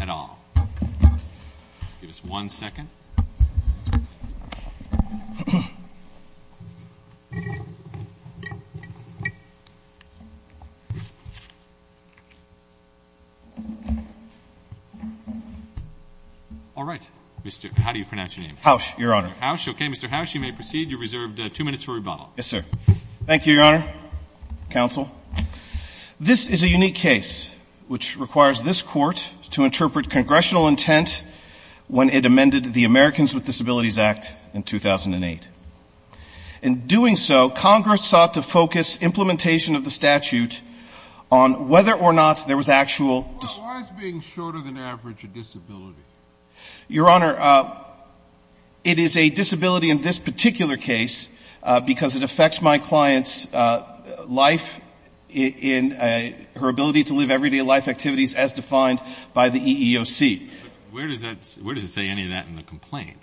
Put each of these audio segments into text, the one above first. at all. Give us one second. All right. Mr. How do you pronounce your name? Hausch, Your Honor. Okay, Mr. Hausch, you may proceed. You're reserved two minutes for rebuttal. Yes, sir. Thank you, Your Honor. Counsel, this is a unique case which requires this court to interpret congressional intent when it amended the Americans with Disabilities Act in 2008. In doing so, Congress sought to focus implementation of the statute on whether or not there was actual Well, why is being shorter than average a disability? Your Honor, it is a disability in this particular case because it affects my client's life in her ability to live everyday life activities as defined by the EEOC. But where does it say any of that in the complaint?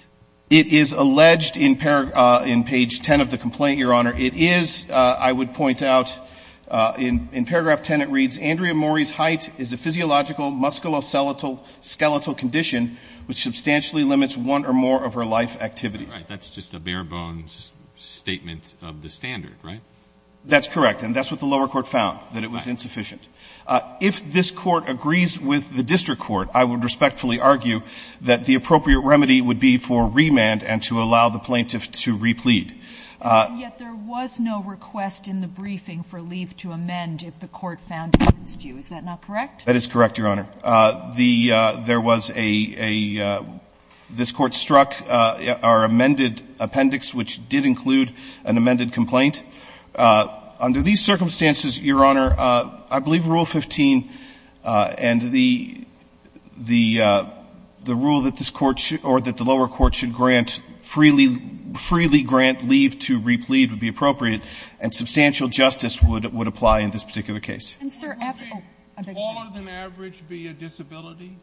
It is alleged in page 10 of the complaint, Your Honor. It is, I would point out, in paragraph 10 it reads, That's just a bare-bones statement of the standard, right? That's correct. And that's what the lower court found, that it was insufficient. If this Court agrees with the district court, I would respectfully argue that the appropriate remedy would be for remand and to allow the plaintiff to replead. And yet there was no request in the briefing for leave to amend if the Court found That is correct, Your Honor. There was a, this Court struck our amended appendix, which did include an amended complaint. Under these circumstances, Your Honor, I believe Rule 15 and the rule that this Court should, or that the lower court should grant freely, freely grant leave to replead would be appropriate, and substantial justice would apply in this particular case. And, sir, after, oh, I beg your pardon. Would taller than average be a disability?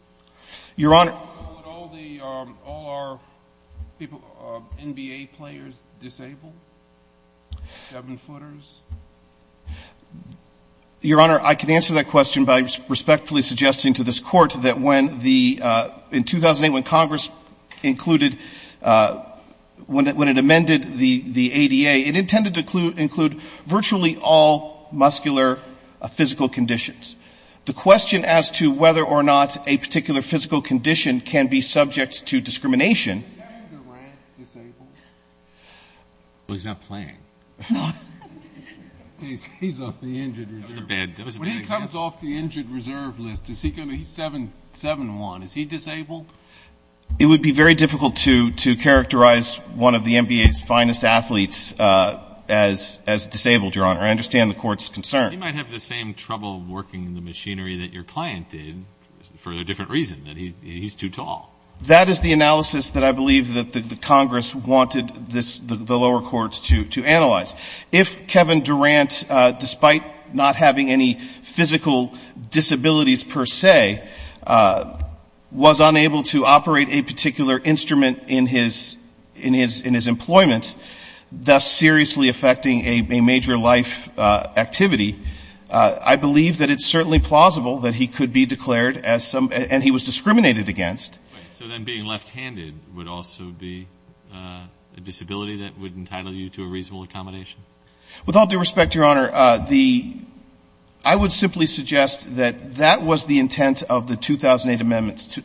Your Honor. Would all the, all our people, NBA players disabled, seven-footers? Your Honor, I can answer that question by respectfully suggesting to this Court that when the, in 2008 when Congress included, when it amended the ADA, it intended to include virtually all muscular physical conditions. The question as to whether or not a particular physical condition can be subject to discrimination. Is Andrew Grant disabled? Well, he's not playing. No. He's off the injured reserve. That was a bad example. When he comes off the injured reserve list, is he going to, he's 7'1", is he disabled? It would be very difficult to characterize one of the NBA's finest athletes as disabled, Your Honor. I understand the Court's concern. He might have the same trouble working the machinery that your client did for a different reason, that he's too tall. That is the analysis that I believe that the Congress wanted this, the lower courts to analyze. If Kevin Durant, despite not having any physical disabilities per se, was unable to operate a particular instrument in his, in his employment, thus seriously affecting a major life activity, I believe that it's certainly plausible that he could be declared as some, and he was discriminated against. So then being left-handed would also be a disability that would entitle you to a reasonable accommodation? With all due respect, Your Honor, the, I would simply suggest that that was the intent of the 2008 amendments,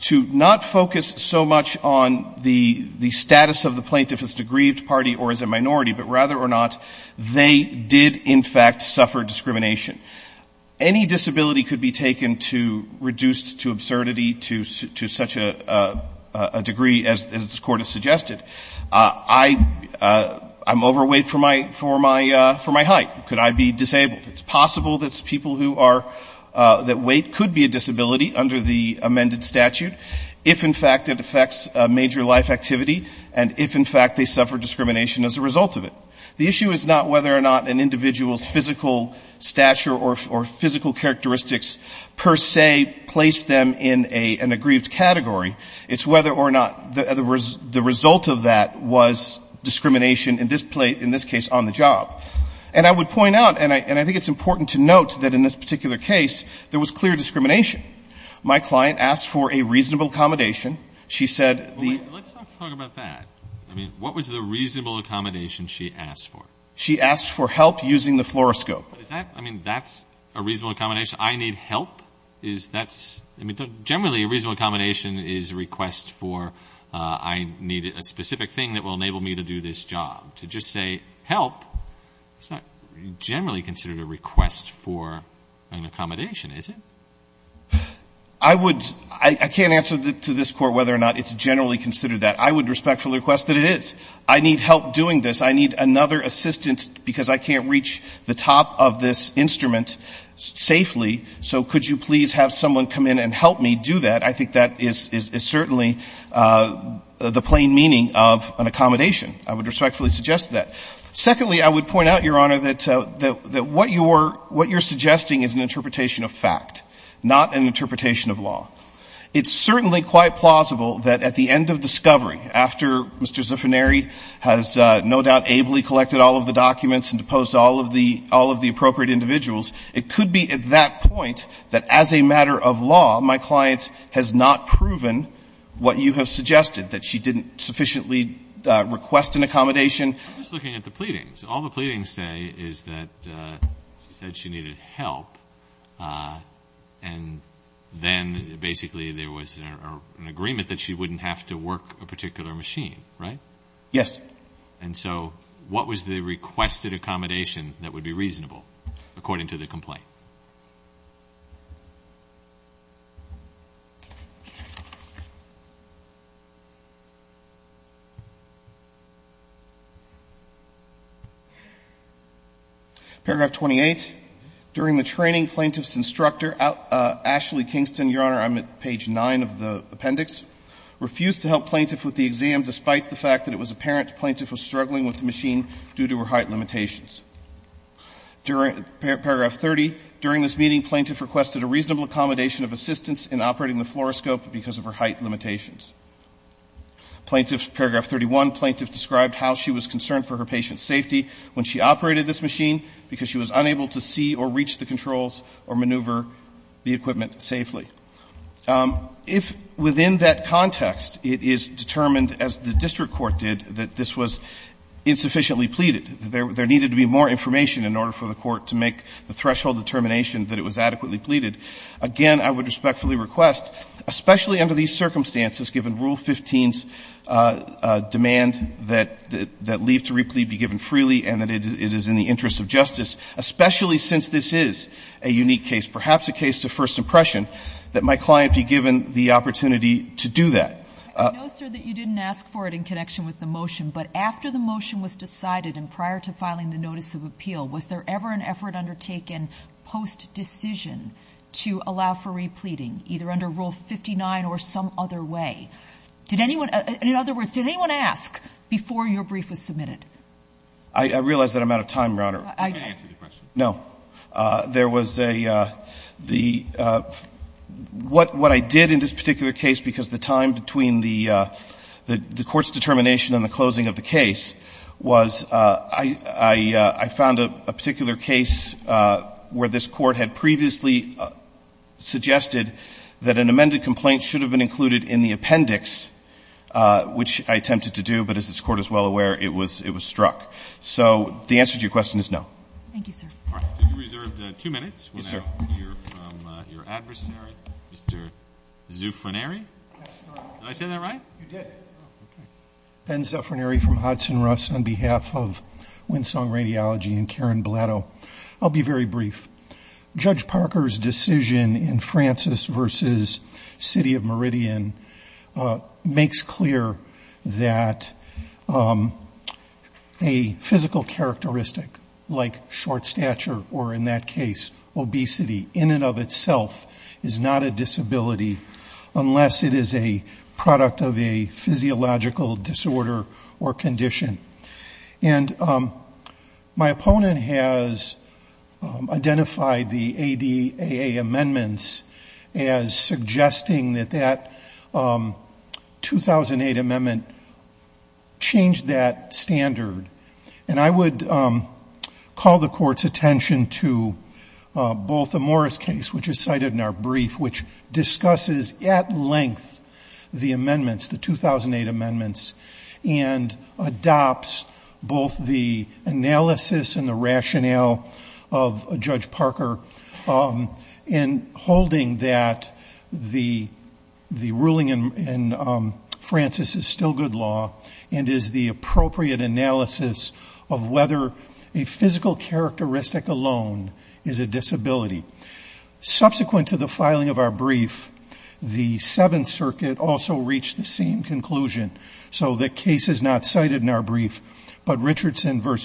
to not focus so much on the status of the plaintiff as a grieved party or as a minority, but rather or not, they did in fact suffer discrimination. Any disability could be taken to, reduced to absurdity, to such a degree as this Court has suggested. I'm overweight for my height. Could I be disabled? It's possible that people who are, that weight could be a disability under the amended statute, if in fact it affects a major life activity, and if in fact they suffer discrimination as a result of it. The issue is not whether or not an individual's physical stature or physical characteristics per se place them in a, in a grieved category. It's whether or not, in other words, the result of that was discrimination in this case on the job. And I would point out, and I think it's important to note that in this particular case, there was clear discrimination. My client asked for a reasonable accommodation. She said the — Well, let's not talk about that. I mean, what was the reasonable accommodation she asked for? She asked for help using the fluoroscope. Is that, I mean, that's a reasonable accommodation? I need help? Is that's, I mean, generally a reasonable accommodation is a request for I need a specific thing that will enable me to do this job? To just say help is not generally considered a request for an accommodation, is it? I would — I can't answer to this Court whether or not it's generally considered that. I would respectfully request that it is. I need help doing this. I need another assistant because I can't reach the top of this instrument safely, so could you please have someone come in and help me do that? I think that is certainly the plain meaning of an accommodation. I would respectfully suggest that. Secondly, I would point out, Your Honor, that what you're — what you're suggesting is an interpretation of fact, not an interpretation of law. It's certainly quite plausible that at the end of discovery, after Mr. Zuffineri has no doubt ably collected all of the documents and deposed all of the — all of the appropriate individuals, it could be at that point that as a matter of law my client has not proven what you have suggested, that she didn't sufficiently request an accommodation. I'm just looking at the pleadings. All the pleadings say is that she said she needed help, and then basically there was an agreement that she wouldn't have to work a particular machine, right? Yes. And so what was the requested accommodation that would be reasonable, according to the complaint? Paragraph 28. During the training, plaintiff's instructor, Ashley Kingston — Your Honor, I'm at page 9 of the appendix — refused to help plaintiff with the exam despite the fact that it was apparent the plaintiff was struggling with the machine due to her height limitations. Paragraph 30. During this meeting, plaintiff requested a reasonable accommodation of assistance in operating the fluoroscope because of her height limitations. Paragraph 31. Plaintiff described how she was concerned for her patient's safety when she operated this machine because she was unable to see or reach the controls or maneuver the equipment safely. If within that context it is determined, as the district court did, that this was insufficiently pleaded, there needed to be more information in order for the court to make the threshold determination that it was adequately pleaded, again, I would respectfully request, especially under these circumstances, given Rule 15's demand that leave to replete be given freely and that it is in the interest of justice, especially since this is a unique case, perhaps a case to first impression, that my client be given the opportunity to do that. I know, sir, that you didn't ask for it in connection with the motion, but after the motion was decided and prior to filing the notice of appeal, was there ever an effort undertaken post-decision to allow for repleting, either under Rule 59 or some other way? Did anyone — in other words, did anyone ask before your brief was submitted? I realize that I'm out of time, Your Honor. I can answer the question. No. There was a — the — what I did in this particular case, because the time between the court's determination and the closing of the case was I found a particular case where this court had previously suggested that an amended complaint should have been included in the appendix, which I attempted to do, but as this Court is well aware, it was struck. So the answer to your question is no. Thank you, sir. All right. So you reserved two minutes. Yes, sir. Your adversary, Mr. Zuffranieri? Yes, Your Honor. Did I say that right? You did. Oh, okay. Ben Zuffranieri from Hudson-Russ on behalf of Winsong Radiology and Karen Blatto. I'll be very brief. Judge Parker's decision in Francis v. City of Meridian makes clear that a physical characteristic like short stature or in that case obesity in and of itself is not a disability unless it is a product of a physiological disorder or condition. And my opponent has identified the ADAA amendments as suggesting that that 2008 amendment changed that standard. And I would call the Court's attention to both the Morris case, which is cited in our brief, which discusses at length the amendments, the 2008 amendments, and adopts both the analysis and the rationale of Judge Parker in holding that the analysis of whether a physical characteristic alone is a disability. Subsequent to the filing of our brief, the Seventh Circuit also reached the same conclusion. So the case is not cited in our brief, but Richardson v.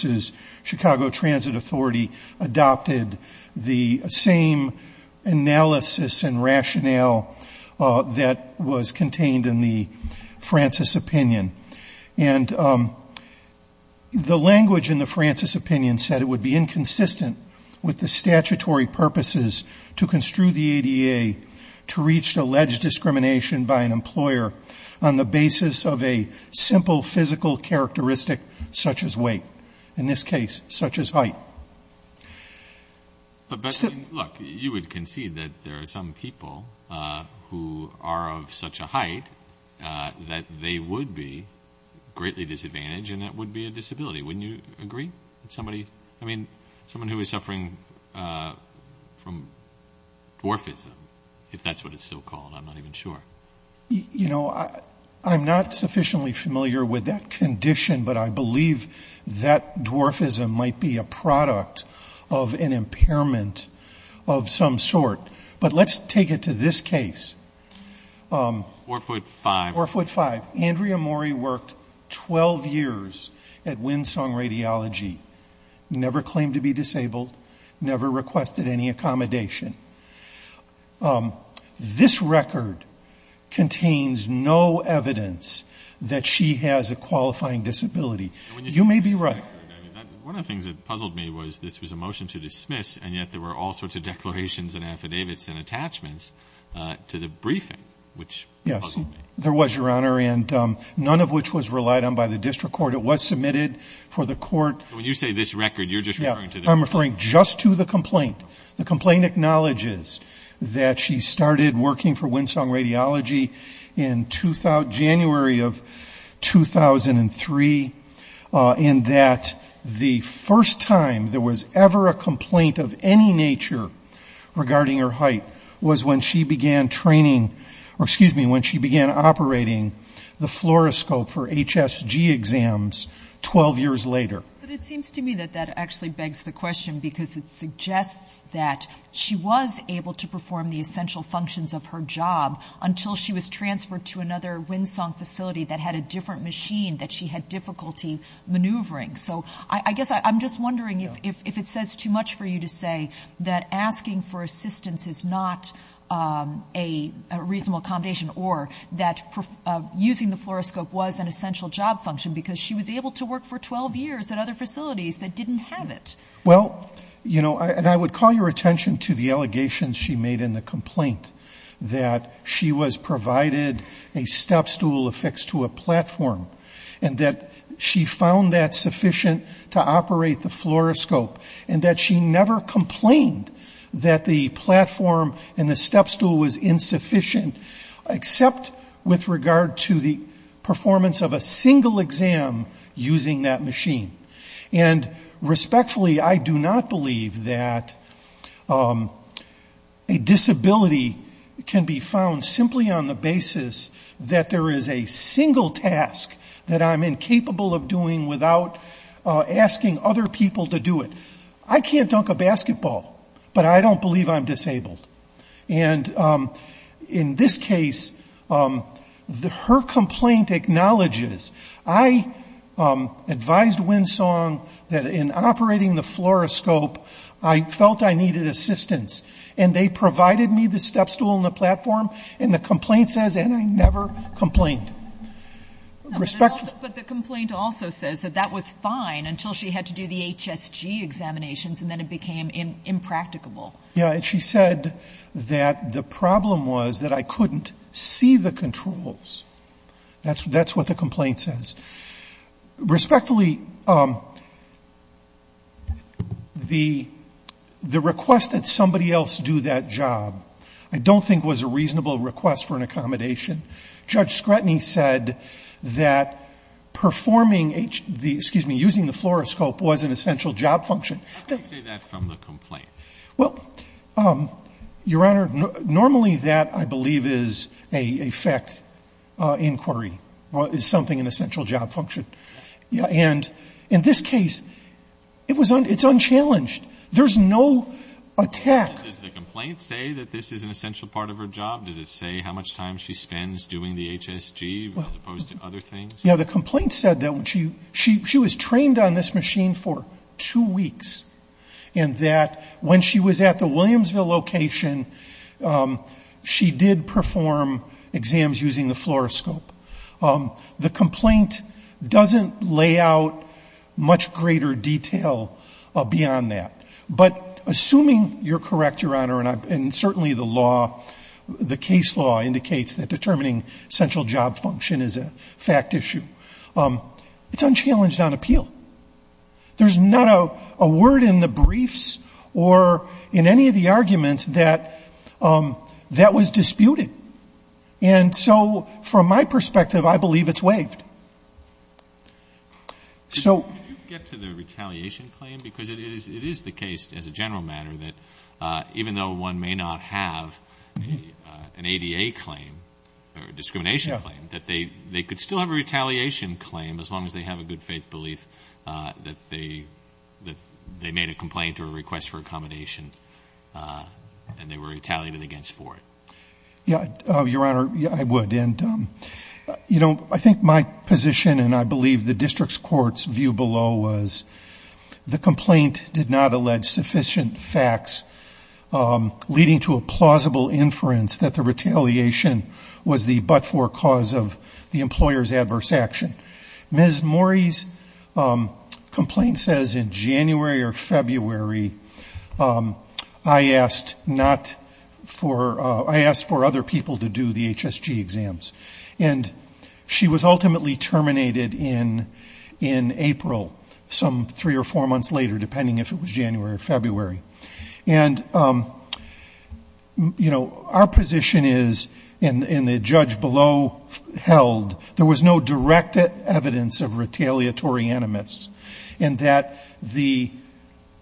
Chicago Transit Authority adopted the same analysis and rationale that was contained in the Francis opinion. And the language in the Francis opinion said it would be inconsistent with the statutory purposes to construe the ADAA to reach the alleged discrimination by an employer on the basis of a simple physical characteristic such as weight, in this case such as height. But, look, you would concede that there are some people who are of such a height that they would be greatly disadvantaged and that would be a disability. Wouldn't you agree? I mean, someone who is suffering from dwarfism, if that's what it's still called, I'm not even sure. You know, I'm not sufficiently familiar with that condition, but I believe that dwarfism might be a product of an impairment of some sort. But let's take it to this case. Orfoot 5. Orfoot 5. Andrea Mori worked 12 years at Winsong Radiology, never claimed to be disabled, never requested any accommodation. This record contains no evidence that she has a qualifying disability. You may be right. One of the things that puzzled me was this was a motion to dismiss, and yet there were all sorts of declarations and affidavits and attachments to the briefing, which puzzled me. Yes, there was, Your Honor, and none of which was relied on by the district court. It was submitted for the court. When you say this record, you're just referring to this record. I'm referring just to the complaint. The complaint acknowledges that she started working for Winsong Radiology in January of 2003 and that the first time there was ever a complaint of any nature regarding her height was when she began training or, excuse me, when she began operating the fluoroscope for HSG exams 12 years later. But it seems to me that that actually begs the question, because it suggests that she was able to perform the essential functions of her job until she was transferred to another Winsong facility that had a different machine that she had difficulty maneuvering. So I guess I'm just wondering if it says too much for you to say that asking for assistance is not a reasonable accommodation or that using the fluoroscope was an essential job function because she was able to work for 12 years at other facilities that didn't have it. Well, you know, and I would call your attention to the allegations she made in the complaint that she was provided a stepstool affixed to a platform and that she found that sufficient to operate the fluoroscope and that she never complained that the platform and the stepstool was insufficient except with regard to the performance of a single exam using that machine. And respectfully, I do not believe that a disability can be found simply on the basis that there is a single task that I'm incapable of doing without asking other people to do it. I can't dunk a basketball, but I don't believe I'm disabled. And in this case, her complaint acknowledges, I advised Winsong that in operating the fluoroscope, I felt I needed assistance. And they provided me the stepstool and the platform, and the complaint says, and I never complained. But the complaint also says that that was fine until she had to do the HSG examinations and then it became impracticable. Yeah, and she said that the problem was that I couldn't see the controls. That's what the complaint says. Respectfully, the request that somebody else do that job, I don't think was a reasonable request for an accommodation. Judge Scrutiny said that performing the, excuse me, using the fluoroscope was an essential job function. How can you say that from the complaint? Well, Your Honor, normally that, I believe, is a fact inquiry, is something an essential job function. And in this case, it's unchallenged. There's no attack. Does the complaint say that this is an essential part of her job? Does it say how much time she spends doing the HSG as opposed to other things? Yeah, the complaint said that she was trained on this machine for two weeks and that when she was at the Williamsville location, she did perform exams using the fluoroscope. The complaint doesn't lay out much greater detail beyond that. But assuming you're correct, Your Honor, and certainly the law, the case law indicates that determining essential job function is a fact issue, it's unchallenged on appeal. There's not a word in the briefs or in any of the arguments that that was disputed. And so from my perspective, I believe it's waived. Did you get to the retaliation claim? Because it is the case, as a general matter, that even though one may not have an ADA claim or a discrimination claim, that they could still have a retaliation claim as long as they have a good faith belief that they made a complaint or a request for accommodation and they were retaliated against for it. Yeah, Your Honor, I would. I think my position, and I believe the district's court's view below, was the complaint did not allege sufficient facts leading to a plausible inference that the retaliation was the but-for cause of the employer's adverse action. Ms. Morey's complaint says in January or February, I asked for other people to do the HSG exams. And she was ultimately terminated in April, some three or four months later, depending if it was January or February. And, you know, our position is, and the judge below held, there was no direct evidence of retaliatory animus in that the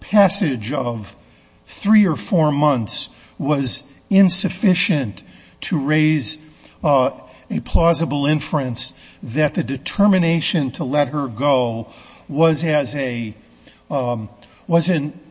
passage of three or four months was insufficient to raise a plausible inference that the determination to let her go was in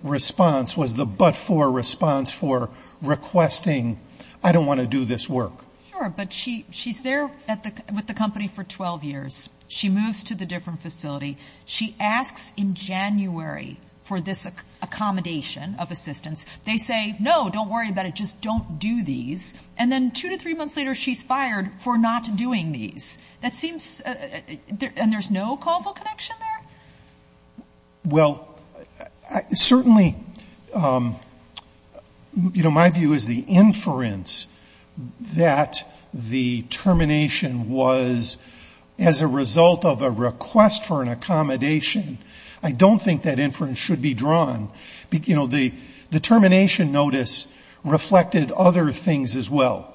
response, was the but-for response for requesting, I don't want to do this work. Sure, but she's there with the company for 12 years. She moves to the different facility. She asks in January for this accommodation of assistance. They say, no, don't worry about it, just don't do these. And then two to three months later, she's fired for not doing these. That seems, and there's no causal connection there? Well, certainly, you know, my view is the inference that the termination was as a result of a request for an accommodation. I don't think that inference should be drawn. The termination notice reflected other things as well.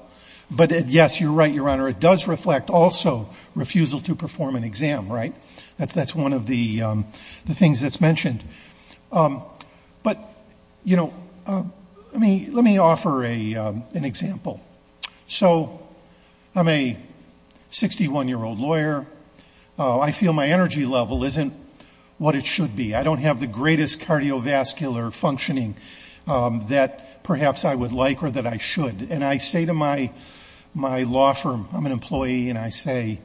But, yes, you're right, Your Honor, it does reflect also refusal to perform an exam, right? That's one of the things that's mentioned. But, you know, let me offer an example. So I'm a 61-year-old lawyer. I feel my energy level isn't what it should be. I don't have the greatest cardiovascular functioning that perhaps I would like or that I should. And I say to my law firm, I'm an employee, and I say,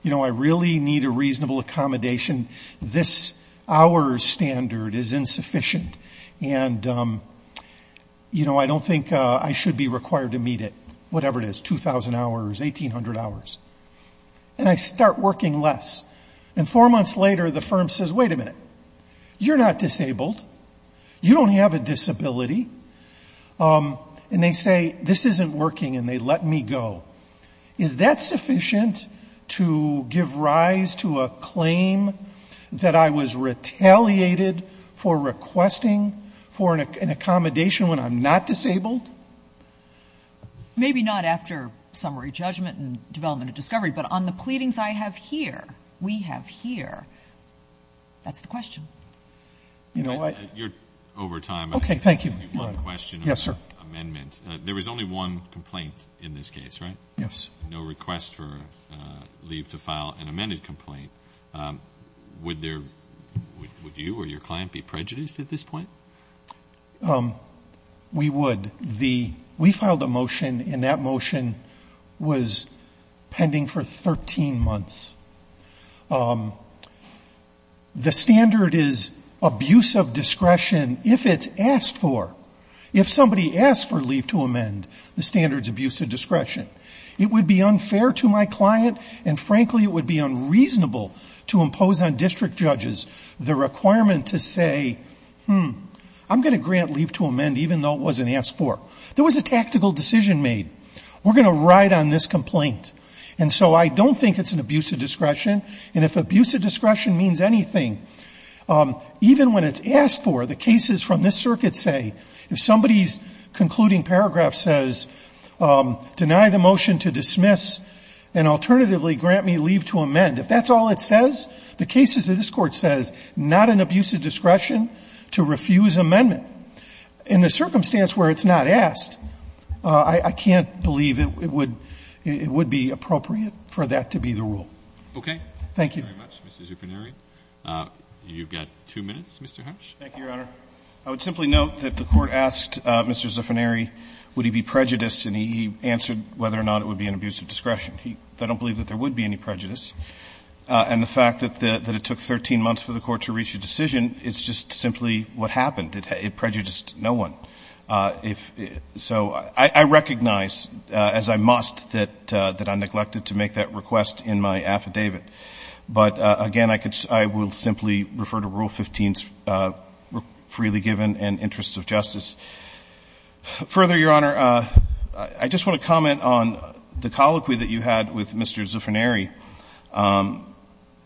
you know, I really need a reasonable accommodation. This hour standard is insufficient. And, you know, I don't think I should be required to meet it, whatever it is, 2,000 hours, 1,800 hours. And I start working less. And four months later, the firm says, wait a minute, you're not disabled. You don't have a disability. And they say, this isn't working, and they let me go. Is that sufficient to give rise to a claim that I was retaliated for requesting for an accommodation when I'm not disabled? Maybe not after summary judgment and development of discovery, but on the pleadings I have here, we have here. That's the question. You know what? You're over time. Okay. Thank you. Yes, sir. There was only one complaint in this case, right? Yes. No request for leave to file an amended complaint. Would you or your client be prejudiced at this point? We would. We filed a motion, and that motion was pending for 13 months. The standard is abuse of discretion if it's asked for. If somebody asks for leave to amend, the standard's abuse of discretion. It would be unfair to my client, and frankly, it would be unreasonable to impose on district judges the requirement to say, hmm, I'm going to grant leave to amend even though it wasn't asked for. There was a tactical decision made. We're going to ride on this complaint. And so I don't think it's an abuse of discretion. And if abuse of discretion means anything, even when it's asked for, the cases from this circuit say, if somebody's concluding paragraph says, deny the motion to dismiss and alternatively grant me leave to amend, if that's all it says, the cases that this Court says, not an abuse of discretion to refuse amendment, in the circumstance where it's not asked, I can't believe it would be appropriate for that to be the rule. Okay. Thank you. Thank you very much, Mr. Zuffineri. You've got two minutes, Mr. Hutch. Thank you, Your Honor. I would simply note that the Court asked Mr. Zuffineri would he be prejudiced, and he answered whether or not it would be an abuse of discretion. I don't believe that there would be any prejudice. And the fact that it took 13 months for the Court to reach a decision is just simply what happened. It prejudiced no one. So I recognize, as I must, that I neglected to make that request in my affidavit. But again, I will simply refer to Rule 15's freely given and interests of justice. Further, Your Honor, I just want to comment on the colloquy that you had with Mr. Zuffineri.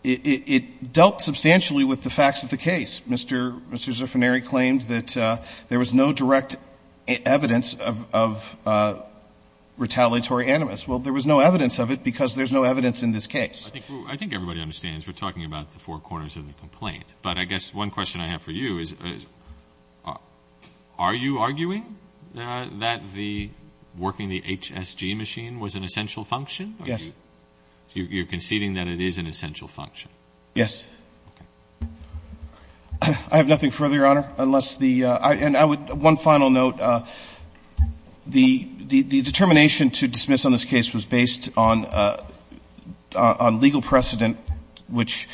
It dealt substantially with the facts of the case. Mr. Zuffineri claimed that there was no direct evidence of retaliatory animus. Well, there was no evidence of it because there's no evidence in this case. I think everybody understands we're talking about the four corners of the complaint. But I guess one question I have for you is, are you arguing that the working the HSG machine was an essential function? Yes. So you're conceding that it is an essential function? Yes. I have nothing further, Your Honor, unless the — and I would — one final note. The determination to dismiss on this case was based on legal precedent, which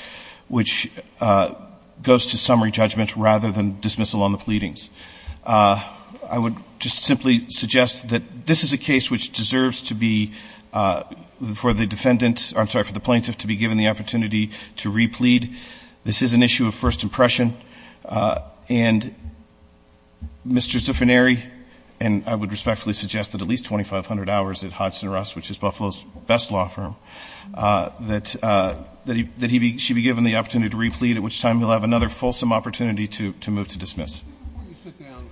goes to summary judgment rather than dismissal on the pleadings. I would just simply suggest that this is a case which deserves to be, for the defendant — I'm sorry, for the plaintiff to be given the opportunity to replead. This is an issue of first impression. And Mr. Zuffineri — and I would respectfully suggest that at least 2,500 hours at Hodgson Russ, which is Buffalo's best law firm, that he be — she be given the opportunity to replead, at which time he'll have another fulsome opportunity to move to dismiss. Mr. Zuffineri, before you sit down,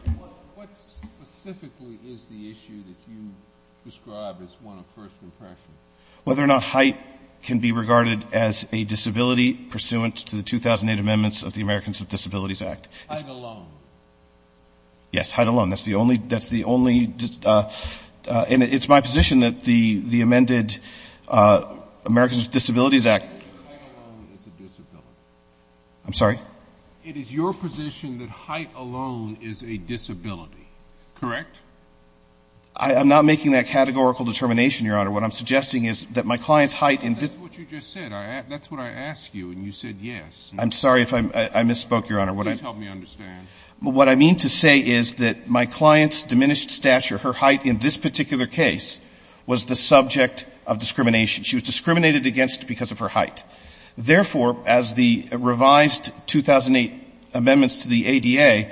what specifically is the issue that you describe as one of first impression? Whether or not height can be regarded as a disability pursuant to the 2008 amendments of the Americans with Disabilities Act. Height alone. Yes, height alone. That's the only — that's the only — and it's my position that the amended Americans with Disabilities Act — Height alone is a disability. I'm sorry? It is your position that height alone is a disability. Correct? I'm not making that categorical determination, Your Honor. What I'm suggesting is that my client's height in this — That's what you just said. That's what I asked you, and you said yes. I'm sorry if I misspoke, Your Honor. Please help me understand. What I mean to say is that my client's diminished stature, her height in this particular case, was the subject of discrimination. She was discriminated against because of her height. Therefore, as the revised 2008 amendments to the ADA,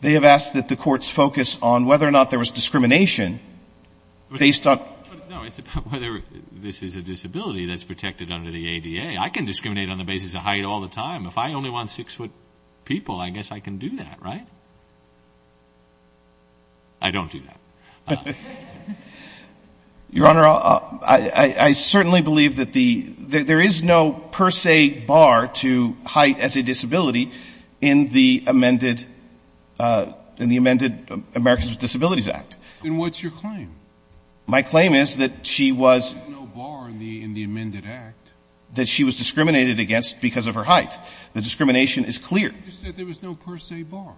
they have asked that the courts focus on whether or not there was discrimination based on — No, it's about whether this is a disability that's protected under the ADA. I can discriminate on the basis of height all the time. If I only want six-foot people, I guess I can do that, right? I don't do that. Your Honor, I certainly believe that there is no per se bar to height as a disability in the amended Americans with Disabilities Act. Then what's your claim? My claim is that she was — There's no bar in the amended act. — that she was discriminated against because of her height. The discrimination is clear. You said there was no per se bar.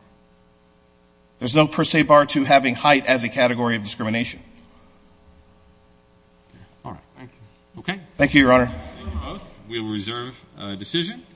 There's no per se bar to having height as a category of discrimination. All right. Thank you. Okay. Thank you, Your Honor. Thank you both. We will reserve decision.